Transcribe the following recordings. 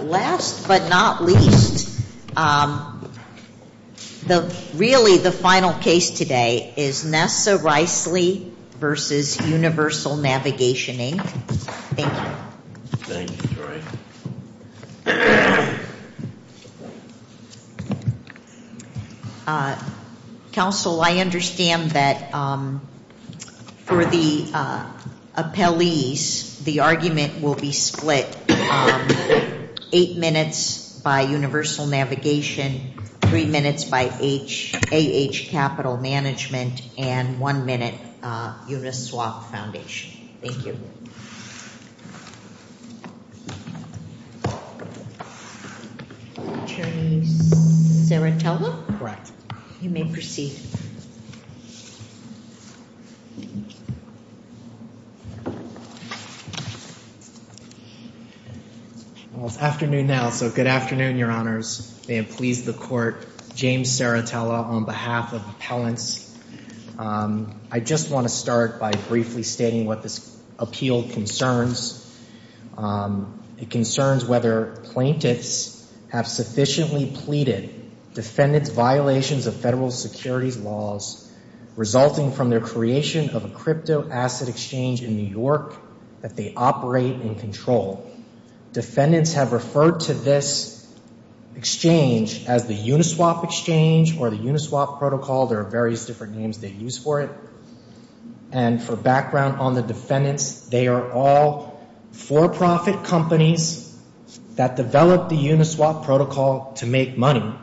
Last but not least, really the final case today is Nessa Reisley v. Universal Navigation Inc. Thank you. Thank you, Joy. Counsel, I understand that for the appellees, the argument will be split eight minutes by Universal Navigation, three minutes by AH Capital Management, and one minute Uniswap Foundation. Thank you. Thank you. Attorney Serratella? Correct. You may proceed. Well, it's afternoon now, so good afternoon, your honors. May it please the court, James Serratella on behalf of Appellants. I just want to start by briefly stating what this appeal concerns. It concerns whether plaintiffs have sufficiently pleaded defendants' violations of federal securities laws resulting from their creation of a cryptoasset exchange in New York that they operate and control. Defendants have referred to this exchange as the Uniswap Exchange or the Uniswap Protocol. There are various different names they use for it. And for background on the defendants, they are all for-profit companies that developed the Uniswap Protocol to make money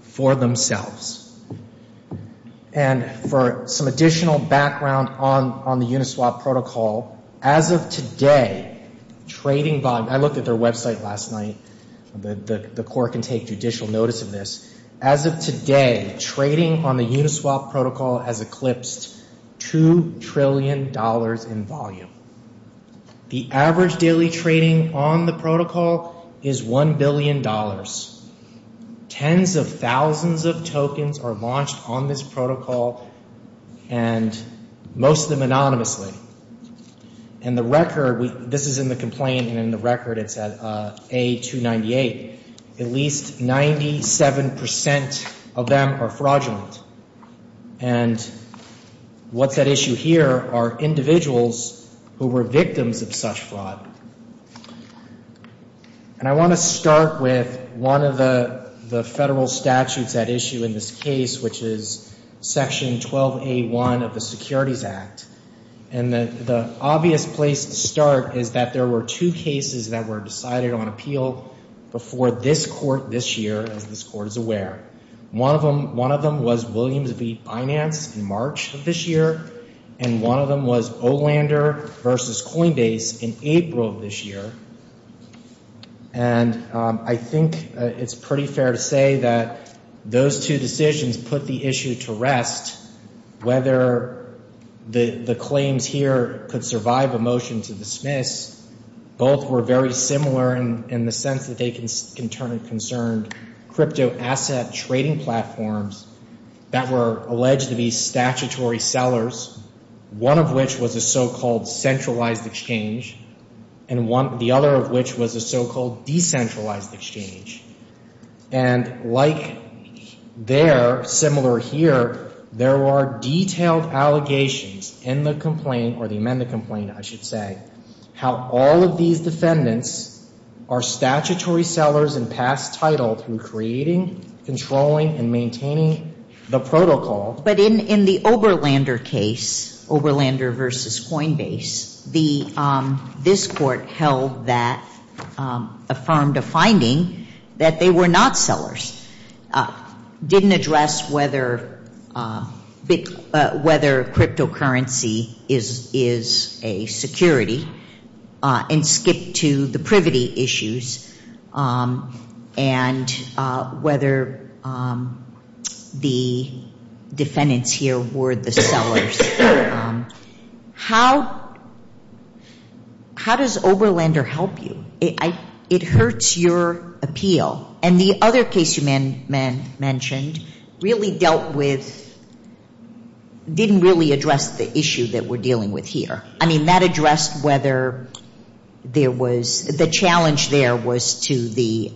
for themselves. And for some additional background on the Uniswap Protocol, as of today, trading by – I looked at their website last night. The court can take judicial notice of this. As of today, trading on the Uniswap Protocol has eclipsed $2 trillion in volume. The average daily trading on the protocol is $1 billion. Tens of thousands of tokens are launched on this protocol, and most of them anonymously. And the record – this is in the complaint, and in the record it's at A-298. At least 97 percent of them are fraudulent. And what's at issue here are individuals who were victims of such fraud. And I want to start with one of the federal statutes at issue in this case, which is Section 12A1 of the Securities Act. And the obvious place to start is that there were two cases that were decided on appeal before this court this year, as this court is aware. One of them was Williams v. Binance in March of this year, and one of them was Olander v. Coinbase in April of this year. And I think it's pretty fair to say that those two decisions put the issue to rest whether the claims here could survive a motion to dismiss. Both were very similar in the sense that they concerned cryptoasset trading platforms that were alleged to be statutory sellers, one of which was a so-called centralized exchange, and the other of which was a so-called decentralized exchange. And like there, similar here, there were detailed allegations in the complaint, or the amended complaint, I should say, how all of these defendants are statutory sellers and pass title through creating, controlling, and maintaining the protocol. But in the Oberlander case, Oberlander v. Coinbase, this court held that, affirmed a finding that they were not sellers, didn't address whether cryptocurrency is a security, and skipped to the privity issues, and whether the defendants here were the sellers. How does Oberlander help you? It hurts your appeal. And the other case you mentioned really dealt with, didn't really address the issue that we're dealing with here. I mean, that addressed whether there was, the challenge there was to the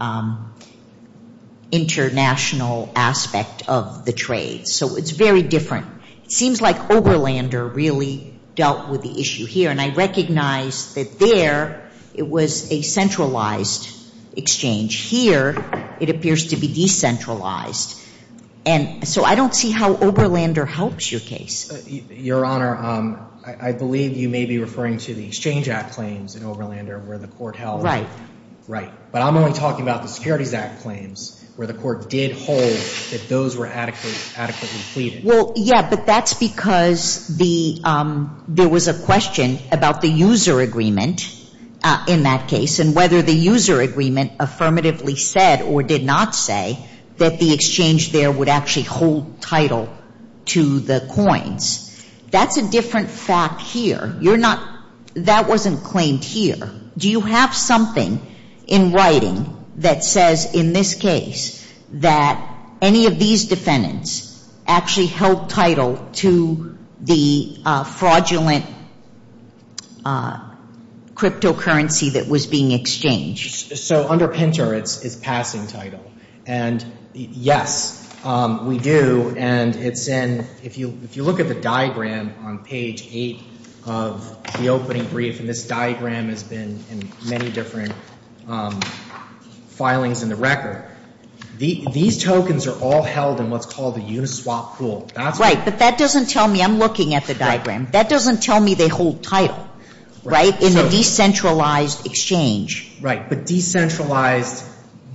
international aspect of the trade. So it's very different. It seems like Oberlander really dealt with the issue here, and I recognize that there it was a centralized exchange. Here it appears to be decentralized. And so I don't see how Oberlander helps your case. Your Honor, I believe you may be referring to the Exchange Act claims in Oberlander where the court held. Right. But I'm only talking about the Securities Act claims, where the court did hold that those were adequately pleaded. Well, yeah, but that's because there was a question about the user agreement in that case, and whether the user agreement affirmatively said or did not say that the exchange there would actually hold title to the coins. That's a different fact here. You're not, that wasn't claimed here. Do you have something in writing that says in this case that any of these defendants actually held title to the fraudulent cryptocurrency that was being exchanged? So under PINTER it's passing title. And yes, we do. And it's in, if you look at the diagram on page 8 of the opening brief, and this diagram has been in many different filings in the record, these tokens are all held in what's called the Uniswap pool. Right. But that doesn't tell me, I'm looking at the diagram, that doesn't tell me they hold title, right, in the decentralized exchange. Right. But decentralized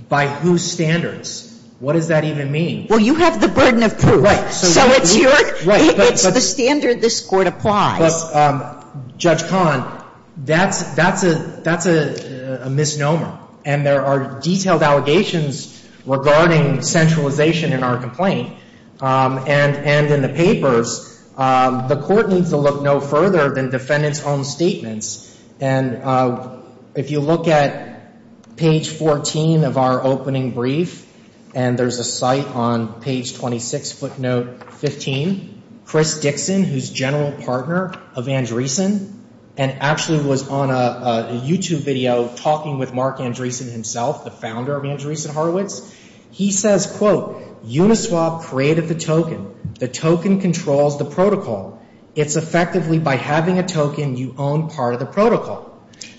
by whose standards? What does that even mean? Well, you have the burden of proof. Right. So it's your, it's the standard this Court applies. But Judge Kahn, that's a misnomer. And there are detailed allegations regarding centralization in our complaint. And in the papers, the Court needs to look no further than defendants' own statements. And if you look at page 14 of our opening brief, and there's a site on page 26, footnote 15, Chris Dixon, who's general partner of Andreessen, and actually was on a YouTube video talking with Mark Andreessen himself, the founder of Andreessen Horowitz, he says, quote, Uniswap created the token. The token controls the protocol. It's effectively, by having a token, you own part of the protocol.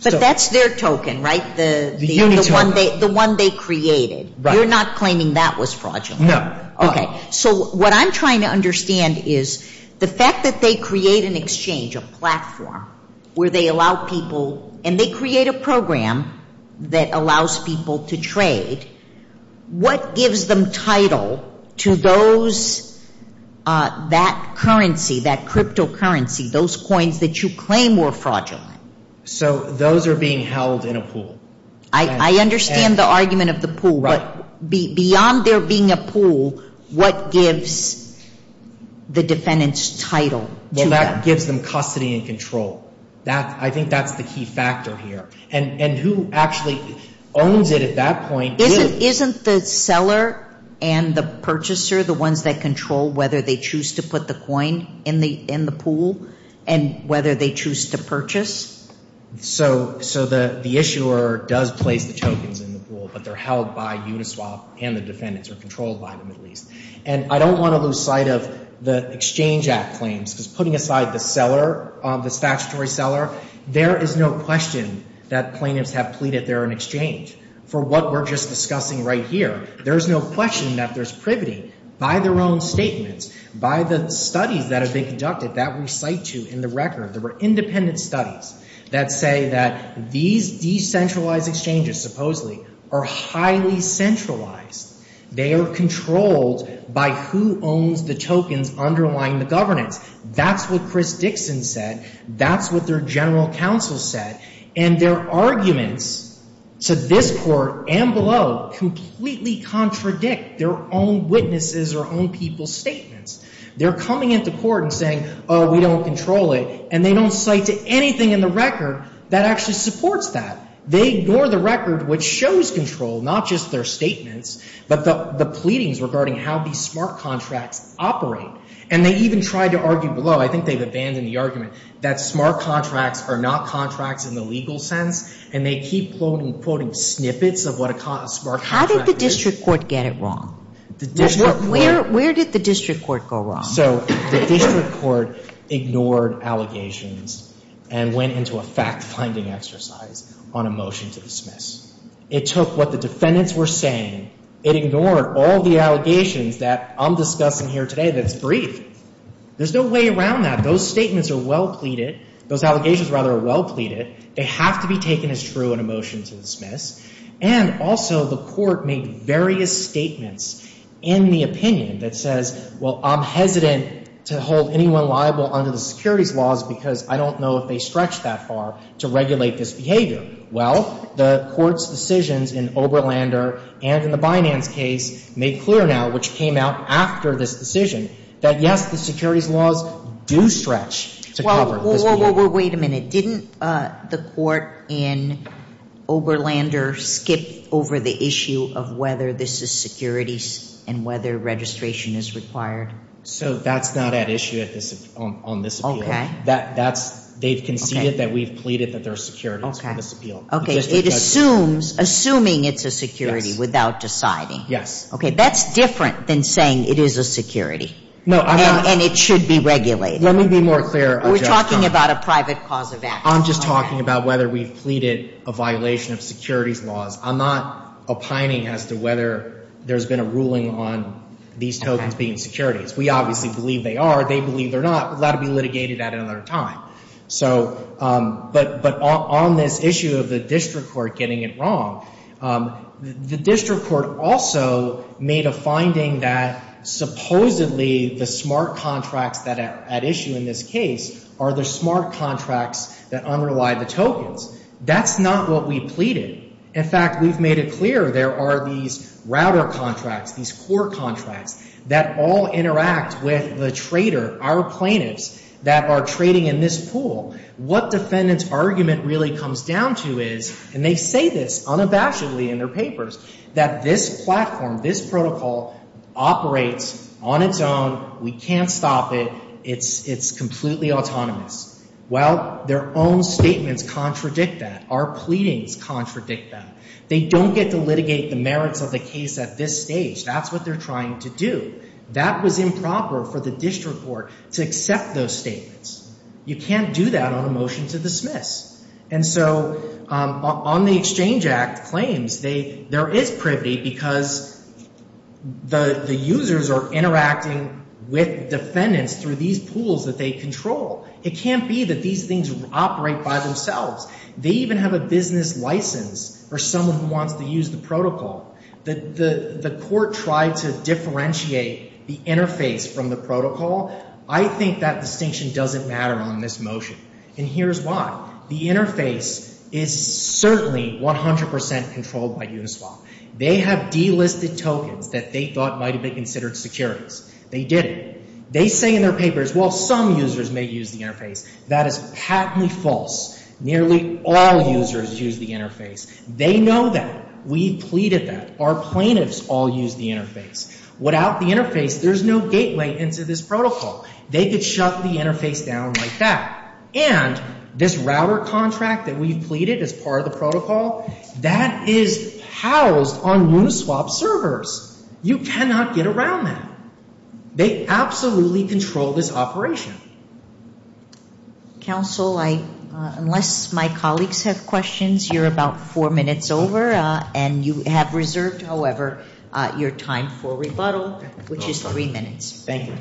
But that's their token, right, the one they created. Right. You're not claiming that was fraudulent. No. Okay. So what I'm trying to understand is the fact that they create an exchange, a platform, where they allow people, and they create a program that allows people to trade. What gives them title to those, that currency, that cryptocurrency, those coins that you claim were fraudulent? So those are being held in a pool. I understand the argument of the pool. Right. But beyond there being a pool, what gives the defendants' title to them? Well, that gives them custody and control. I think that's the key factor here. And who actually owns it at that point? Isn't the seller and the purchaser the ones that control whether they choose to put the coin in the pool and whether they choose to purchase? So the issuer does place the tokens in the pool, but they're held by Uniswap and the defendants, or controlled by them at least. And I don't want to lose sight of the Exchange Act claims, because putting aside the seller, the statutory seller, there is no question that plaintiffs have pleaded they're an exchange. For what we're just discussing right here, there's no question that there's privity by their own statements, by the studies that have been conducted, that we cite to in the record. There were independent studies that say that these decentralized exchanges, supposedly, are highly centralized. They are controlled by who owns the tokens underlying the governance. That's what Chris Dixon said. That's what their general counsel said. And their arguments to this court and below completely contradict their own witnesses or own people's statements. They're coming into court and saying, oh, we don't control it, and they don't cite to anything in the record that actually supports that. They ignore the record, which shows control, not just their statements, but the pleadings regarding how these smart contracts operate. And they even tried to argue below. I think they've abandoned the argument that smart contracts are not contracts in the legal sense, and they keep quoting snippets of what a smart contract is. How did the district court get it wrong? Where did the district court go wrong? So the district court ignored allegations and went into a fact-finding exercise on a motion to dismiss. It took what the defendants were saying. It ignored all the allegations that I'm discussing here today that's brief. There's no way around that. Those statements are well pleaded. Those allegations, rather, are well pleaded. They have to be taken as true in a motion to dismiss. And also the court made various statements in the opinion that says, well, I'm hesitant to hold anyone liable under the securities laws because I don't know if they stretch that far to regulate this behavior. Well, the court's decisions in Oberlander and in the Binance case made clear now, which came out after this decision, that, yes, the securities laws do stretch to cover this behavior. Well, wait a minute. Didn't the court in Oberlander skip over the issue of whether this is securities and whether registration is required? So that's not at issue on this appeal. Okay. They've conceded that we've pleaded that there are securities for this appeal. Okay. It assumes, assuming it's a security without deciding. Yes. Okay. That's different than saying it is a security and it should be regulated. Let me be more clear. We're talking about a private cause of action. I'm just talking about whether we've pleaded a violation of securities laws. I'm not opining as to whether there's been a ruling on these tokens being securities. We obviously believe they are. They believe they're not. That will be litigated at another time. So, but on this issue of the district court getting it wrong, the district court also made a finding that, supposedly, the smart contracts at issue in this case are the smart contracts that underlie the tokens. That's not what we pleaded. In fact, we've made it clear there are these router contracts, these core contracts, that all interact with the trader, our plaintiffs, that are trading in this pool. What defendant's argument really comes down to is, and they say this unabashedly in their papers, that this platform, this protocol operates on its own. We can't stop it. It's completely autonomous. Well, their own statements contradict that. Our pleadings contradict that. They don't get to litigate the merits of the case at this stage. That's what they're trying to do. That was improper for the district court to accept those statements. You can't do that on a motion to dismiss. And so on the Exchange Act claims, there is privity because the users are interacting with defendants through these pools that they control. It can't be that these things operate by themselves. They even have a business license for someone who wants to use the protocol. The court tried to differentiate the interface from the protocol. I think that distinction doesn't matter on this motion. And here's why. The interface is certainly 100 percent controlled by Uniswap. They have delisted tokens that they thought might have been considered securities. They didn't. They say in their papers, well, some users may use the interface. That is patently false. Nearly all users use the interface. They know that. We've pleaded that. Our plaintiffs all use the interface. Without the interface, there's no gateway into this protocol. They could shut the interface down like that. And this router contract that we've pleaded as part of the protocol, that is housed on Uniswap servers. You cannot get around that. They absolutely control this operation. Counsel, unless my colleagues have questions, you're about four minutes over. And you have reserved, however, your time for rebuttal, which is three minutes. Thank you.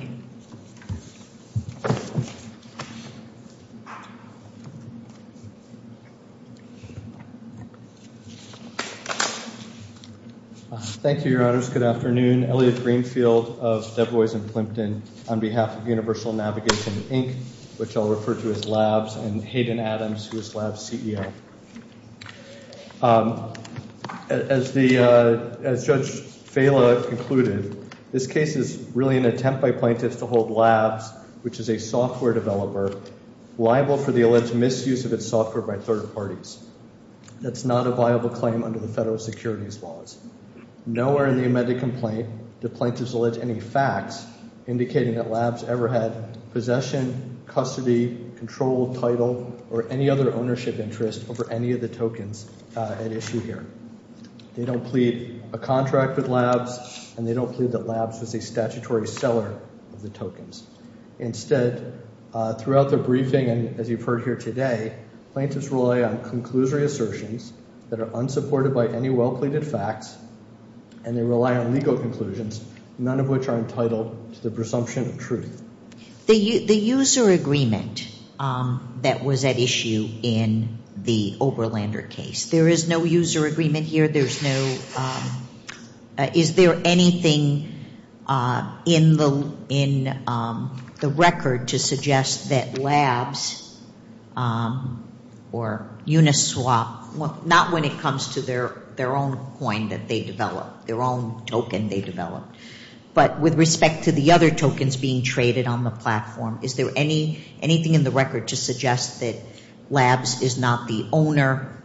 Thank you, Your Honors. Good afternoon. I'm Elliot Greenfield of Dubois and Plimpton on behalf of Universal Navigation, Inc., which I'll refer to as LABS, and Hayden Adams, who is LABS' CEO. As Judge Fela concluded, this case is really an attempt by plaintiffs to hold LABS, which is a software developer, liable for the alleged misuse of its software by third parties. That's not a viable claim under the federal securities laws. Nowhere in the amended complaint do plaintiffs allege any facts indicating that LABS ever had possession, custody, control, title, or any other ownership interest over any of the tokens at issue here. They don't plead a contract with LABS, and they don't plead that LABS was a statutory seller of the tokens. Instead, throughout the briefing and as you've heard here today, plaintiffs rely on conclusory assertions that are unsupported by any well-pleaded facts, and they rely on legal conclusions, none of which are entitled to the presumption of truth. The user agreement that was at issue in the Oberlander case, there is no user agreement here? Is there anything in the record to suggest that LABS or Uniswap, not when it comes to their own coin that they developed, their own token they developed, but with respect to the other tokens being traded on the platform, is there anything in the record to suggest that LABS is not the owner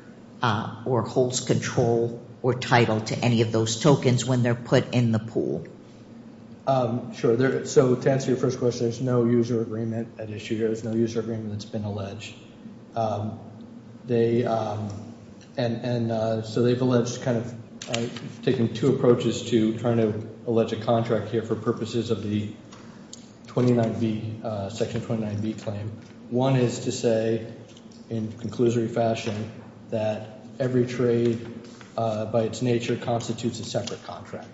or holds control or title to any of those tokens when they're put in the pool? Sure. So to answer your first question, there's no user agreement at issue here. There's no user agreement that's been alleged. And so they've alleged kind of taking two approaches to trying to allege a contract here for purposes of the 29B, Section 29B claim. One is to say in conclusory fashion that every trade by its nature constitutes a separate contract.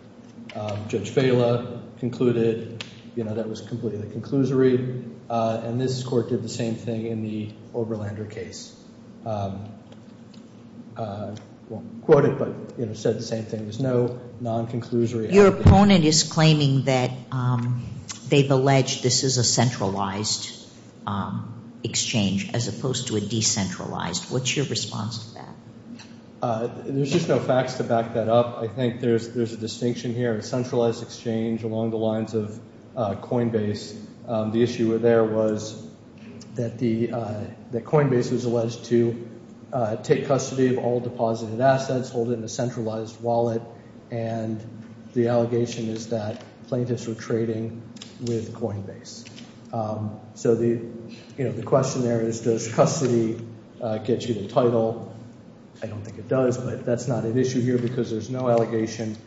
Judge Vela concluded, you know, that was completely conclusory, and this Court did the same thing in the Oberlander case. I won't quote it, but, you know, said the same thing. There's no non-conclusory. Your opponent is claiming that they've alleged this is a centralized exchange as opposed to a decentralized. What's your response to that? There's just no facts to back that up. I think there's a distinction here. A centralized exchange along the lines of Coinbase, the issue there was that Coinbase was alleged to take custody of all deposited assets, hold it in a centralized wallet, and the allegation is that plaintiffs were trading with Coinbase. So, you know, the question there is does custody get you the title? I don't think it does, but that's not an issue here because there's no allegation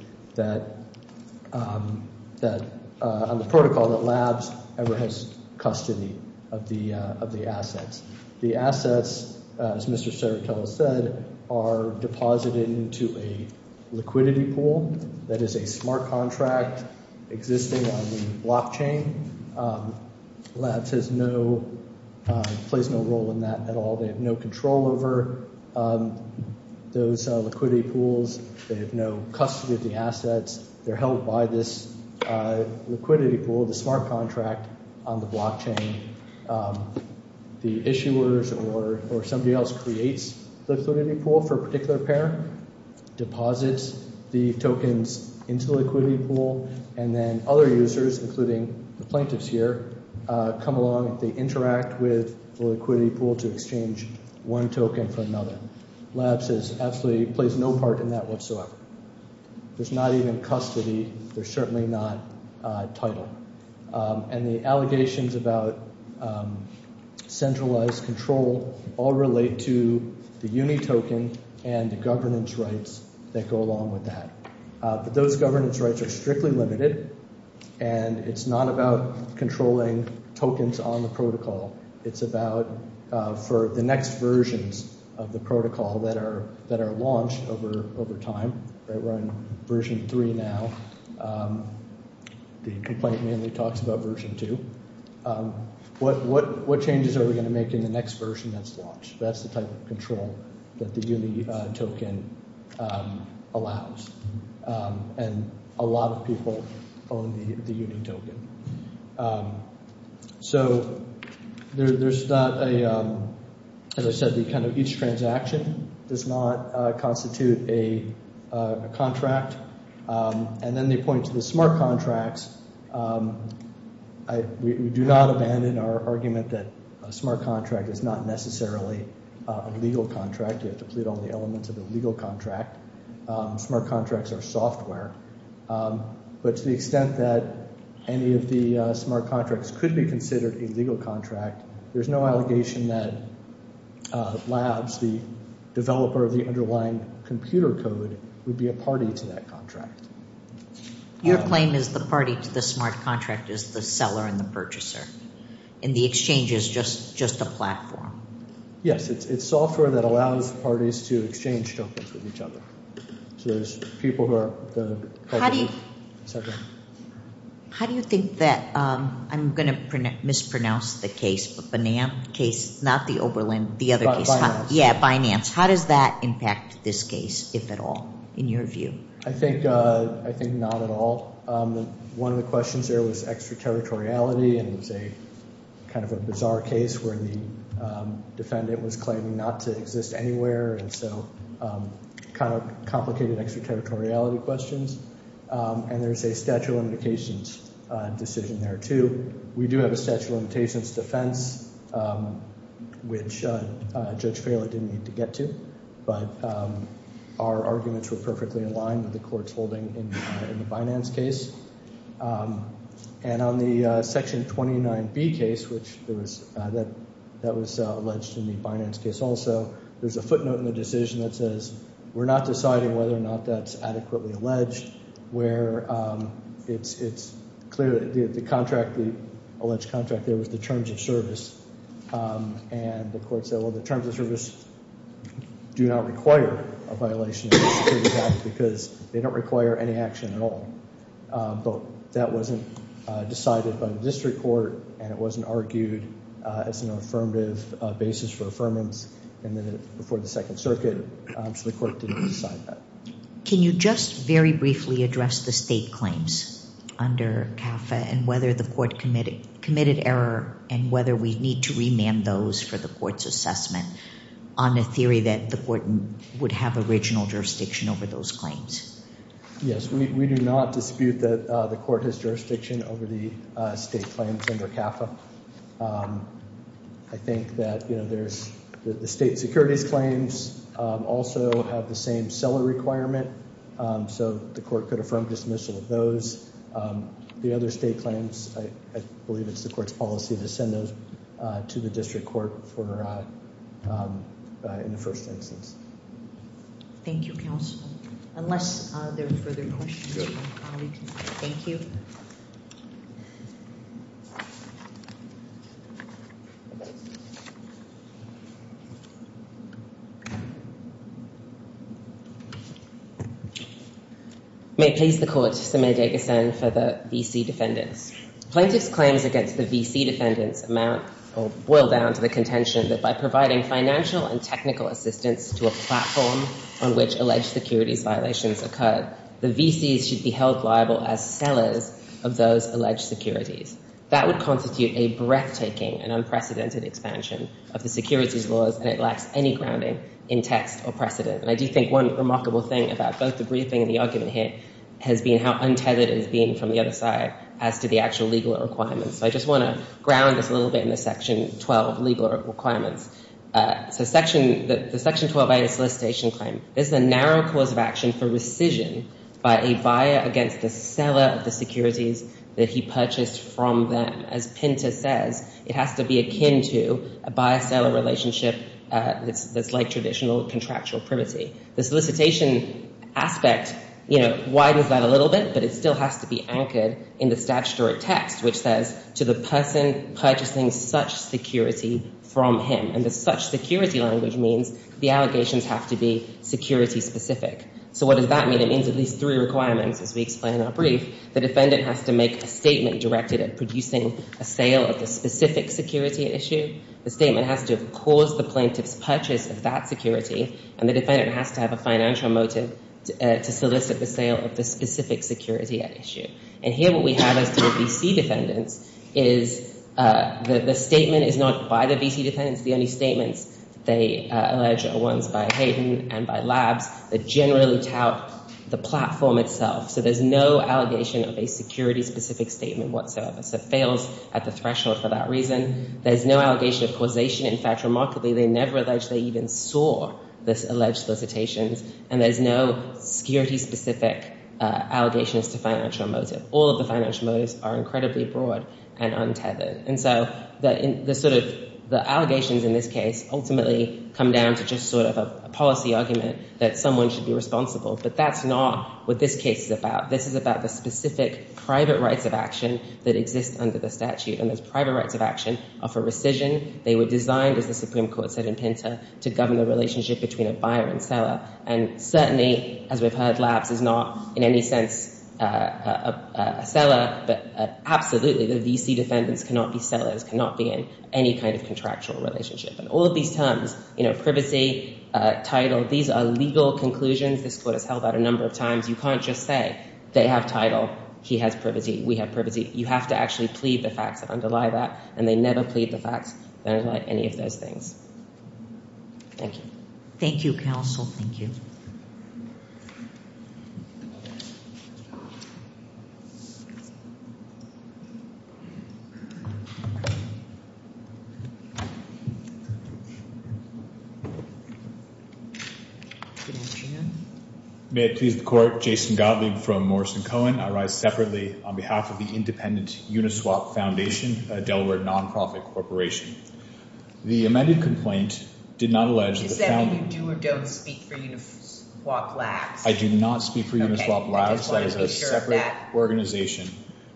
on the protocol that Labs ever has custody of the assets. The assets, as Mr. Cerutello said, are deposited into a liquidity pool that is a smart contract existing on the blockchain. Labs plays no role in that at all. They have no control over those liquidity pools. They have no custody of the assets. They're held by this liquidity pool, the smart contract on the blockchain. The issuers or somebody else creates the liquidity pool for a particular pair, deposits the tokens into the liquidity pool, and then other users, including the plaintiffs here, come along and they interact with the liquidity pool to exchange one token for another. Labs absolutely plays no part in that whatsoever. There's not even custody. There's certainly not title. And the allegations about centralized control all relate to the UNI token and the governance rights that go along with that. But those governance rights are strictly limited, and it's not about controlling tokens on the protocol. It's about for the next versions of the protocol that are launched over time. We're in version three now. The complaint mainly talks about version two. What changes are we going to make in the next version that's launched? That's the type of control that the UNI token allows. And a lot of people own the UNI token. So there's not a—as I said, each transaction does not constitute a contract. And then they point to the smart contracts. We do not abandon our argument that a smart contract is not necessarily a legal contract. You have to plead all the elements of the legal contract. Smart contracts are software. But to the extent that any of the smart contracts could be considered a legal contract, there's no allegation that Labs, the developer of the underlying computer code, would be a party to that contract. Your claim is the party to the smart contract is the seller and the purchaser, and the exchange is just a platform. Yes, it's software that allows parties to exchange tokens with each other. So there's people who are— How do you think that—I'm going to mispronounce the case, but Banan case, not the Oberlin, the other case. Yeah, Binance. How does that impact this case, if at all, in your view? I think not at all. One of the questions there was extraterritoriality. And it's a kind of a bizarre case where the defendant was claiming not to exist anywhere. And so kind of complicated extraterritoriality questions. And there's a statute of limitations decision there, too. We do have a statute of limitations defense, which Judge Phelan didn't need to get to. But our arguments were perfectly aligned with the court's holding in the Binance case. And on the Section 29B case, which there was—that was alleged in the Binance case also. There's a footnote in the decision that says, we're not deciding whether or not that's adequately alleged. Where it's clear that the contract, the alleged contract there was the terms of service. And the court said, well, the terms of service do not require a violation of the Security Act because they don't require any action at all. But that wasn't decided by the district court. And it wasn't argued as an affirmative basis for affirmance before the Second Circuit. So the court didn't decide that. Can you just very briefly address the state claims under CAFA and whether the court committed error and whether we need to remand those for the court's assessment on the theory that the court would have original jurisdiction over those claims? Yes, we do not dispute that the court has jurisdiction over the state claims under CAFA. I think that, you know, there's—the state securities claims also have the same seller requirement. So the court could affirm dismissal of those. The other state claims, I believe it's the court's policy to send those to the district court for—in the first instance. Thank you, counsel. Unless there are further questions from colleagues, thank you. May it please the court, Samir Deghasan for the VC defendants. Plaintiff's claims against the VC defendants amount—well, boil down to the contention that by providing financial and technical assistance to a platform on which alleged securities violations occur, the VCs should be held liable as sellers in the case. That would constitute a breathtaking and unprecedented expansion of the securities laws and it lacks any grounding in text or precedent. And I do think one remarkable thing about both the briefing and the argument here has been how untethered it has been from the other side as to the actual legal requirements. So I just want to ground this a little bit in the Section 12 legal requirements. So Section—the Section 12 solicitation claim, this is a narrow cause of action for rescission by a buyer against the seller of the securities that he purchased from them. As Pinter says, it has to be akin to a buyer-seller relationship that's like traditional contractual privity. The solicitation aspect, you know, widens that a little bit, but it still has to be anchored in the statutory text, which says, to the person purchasing such security from him. And the such security language means the allegations have to be security-specific. So what does that mean? It means at least three requirements, as we explain in our brief. The defendant has to make a statement directed at producing a sale of the specific security at issue. The statement has to have caused the plaintiff's purchase of that security. And the defendant has to have a financial motive to solicit the sale of the specific security at issue. And here what we have as to the VC defendants is the statement is not by the VC defendants. The only statements they allege are ones by Hayden and by Labs that generally tout the platform itself. So there's no allegation of a security-specific statement whatsoever. So it fails at the threshold for that reason. There's no allegation of causation. In fact, remarkably, they never allege they even saw this alleged solicitation. And there's no security-specific allegations to financial motive. All of the financial motives are incredibly broad and untethered. And so the allegations in this case ultimately come down to just sort of a policy argument that someone should be responsible. But that's not what this case is about. This is about the specific private rights of action that exist under the statute. And those private rights of action are for rescission. They were designed, as the Supreme Court said in Pinter, to govern the relationship between a buyer and seller. And certainly, as we've heard, Labs is not in any sense a seller. But absolutely, the VC defendants cannot be sellers, cannot be in any kind of contractual relationship. And all of these terms, you know, privacy, title, these are legal conclusions. This Court has held that a number of times. You can't just say they have title, he has privacy, we have privacy. You have to actually plead the facts that underlie that. And they never plead the facts that underlie any of those things. Thank you. Thank you, counsel. May it please the Court. Jason Gottlieb from Morrison Cohen. I rise separately on behalf of the Independent Uniswap Foundation, a Delaware non-profit corporation. The amended complaint did not allege that the founding… You said you do or don't speak for Uniswap Labs. I do not speak for Uniswap Labs. That is a separate organization.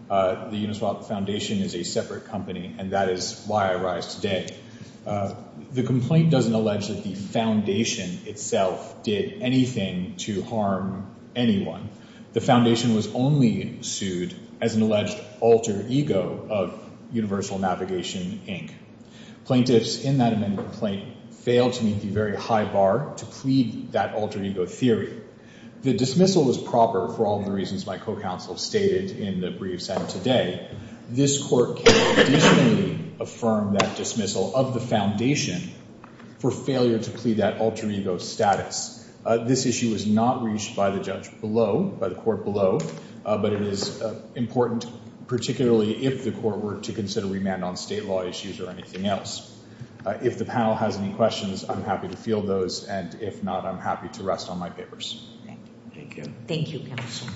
The Uniswap Foundation is a separate company, and that is why I rise today. The complaint doesn't allege that the foundation itself did anything to harm anyone. The foundation was only sued as an alleged alter ego of Universal Navigation, Inc. Plaintiffs in that amended complaint failed to meet the very high bar to plead that alter ego theory. The dismissal was proper for all the reasons my co-counsel stated in the brief sent today. This Court can additionally affirm that dismissal of the foundation for failure to plead that alter ego status. This issue is not reached by the judge below, by the Court below, but it is important, particularly if the Court were to consider remand on state law issues or anything else. If the panel has any questions, I'm happy to field those, and if not, I'm happy to rest on my papers. Thank you. Thank you. Thank you, counsel.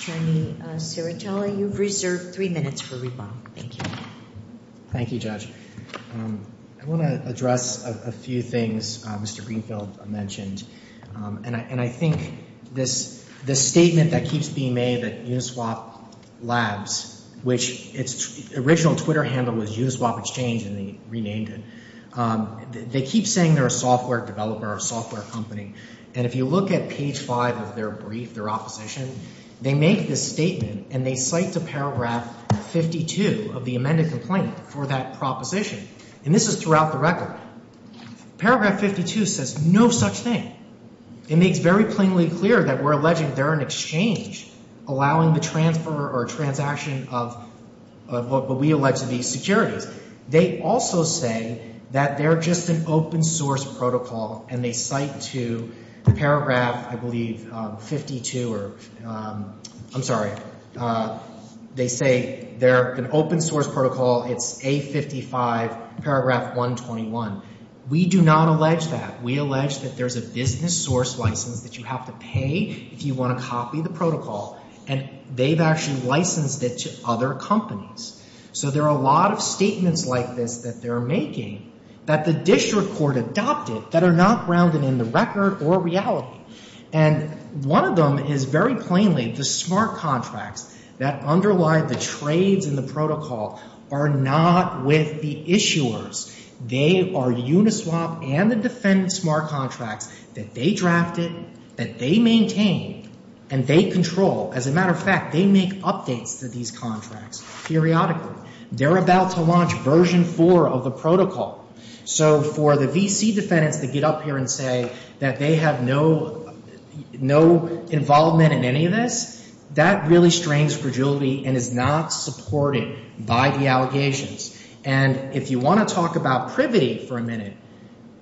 Attorney Serritelli, you've reserved three minutes for rebuttal. Thank you. Thank you, Judge. I want to address a few things Mr. Greenfield mentioned, and I think this statement that keeps being made that Uniswap Labs, which its original Twitter handle was Uniswap Exchange and they renamed it, they keep saying they're a software developer or a software company, and if you look at page five of their brief, their opposition, they make this statement and they cite to paragraph 52 of the amended complaint for that proposition, and this is throughout the record. Paragraph 52 says no such thing. It makes very plainly clear that we're alleging they're an exchange allowing the transfer or transaction of what we allege to be securities. They also say that they're just an open source protocol, and they cite to paragraph, I believe, 52 or, I'm sorry. They say they're an open source protocol. It's A55, paragraph 121. We do not allege that. We allege that there's a business source license that you have to pay if you want to copy the protocol, and they've actually licensed it to other companies. So there are a lot of statements like this that they're making that the district court adopted that are not grounded in the record or reality, and one of them is very plainly the smart contracts that underlie the trades and the protocol are not with the issuers. They are Uniswap and the defendant smart contracts that they drafted, that they maintained, and they control. As a matter of fact, they make updates to these contracts periodically. They're about to launch version 4 of the protocol. So for the VC defendants to get up here and say that they have no involvement in any of this, that really strains fragility and is not supported by the allegations. And if you want to talk about privity for a minute,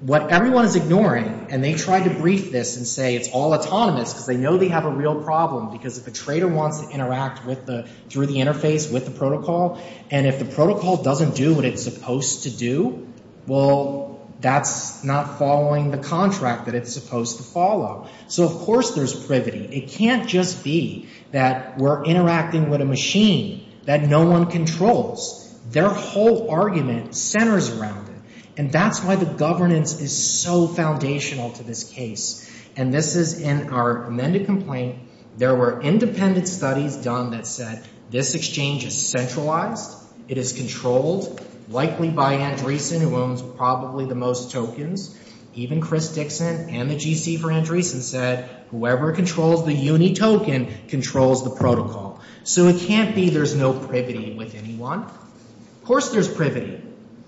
what everyone is ignoring, and they tried to brief this and say it's all autonomous because they know they have a real problem because if a trader wants to interact through the interface with the protocol, and if the protocol doesn't do what it's supposed to do, well, that's not following the contract that it's supposed to follow. So of course there's privity. It can't just be that we're interacting with a machine that no one controls. Their whole argument centers around it, and that's why the governance is so foundational to this case. And this is in our amended complaint. There were independent studies done that said this exchange is centralized. It is controlled, likely by Andreessen, who owns probably the most tokens. Even Chris Dixon and the GC for Andreessen said whoever controls the UNI token controls the protocol. So it can't be there's no privity with anyone. Of course there's privity.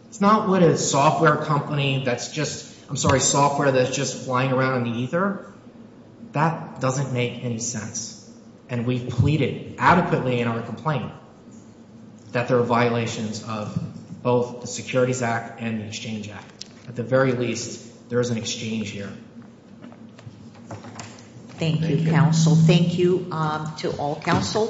It's not what a software company that's just, I'm sorry, software that's just flying around in the ether. That doesn't make any sense. And we've pleaded adequately in our complaint that there are violations of both the Securities Act and the Exchange Act. At the very least, there is an exchange here. Thank you, counsel. Thank you to all counsel.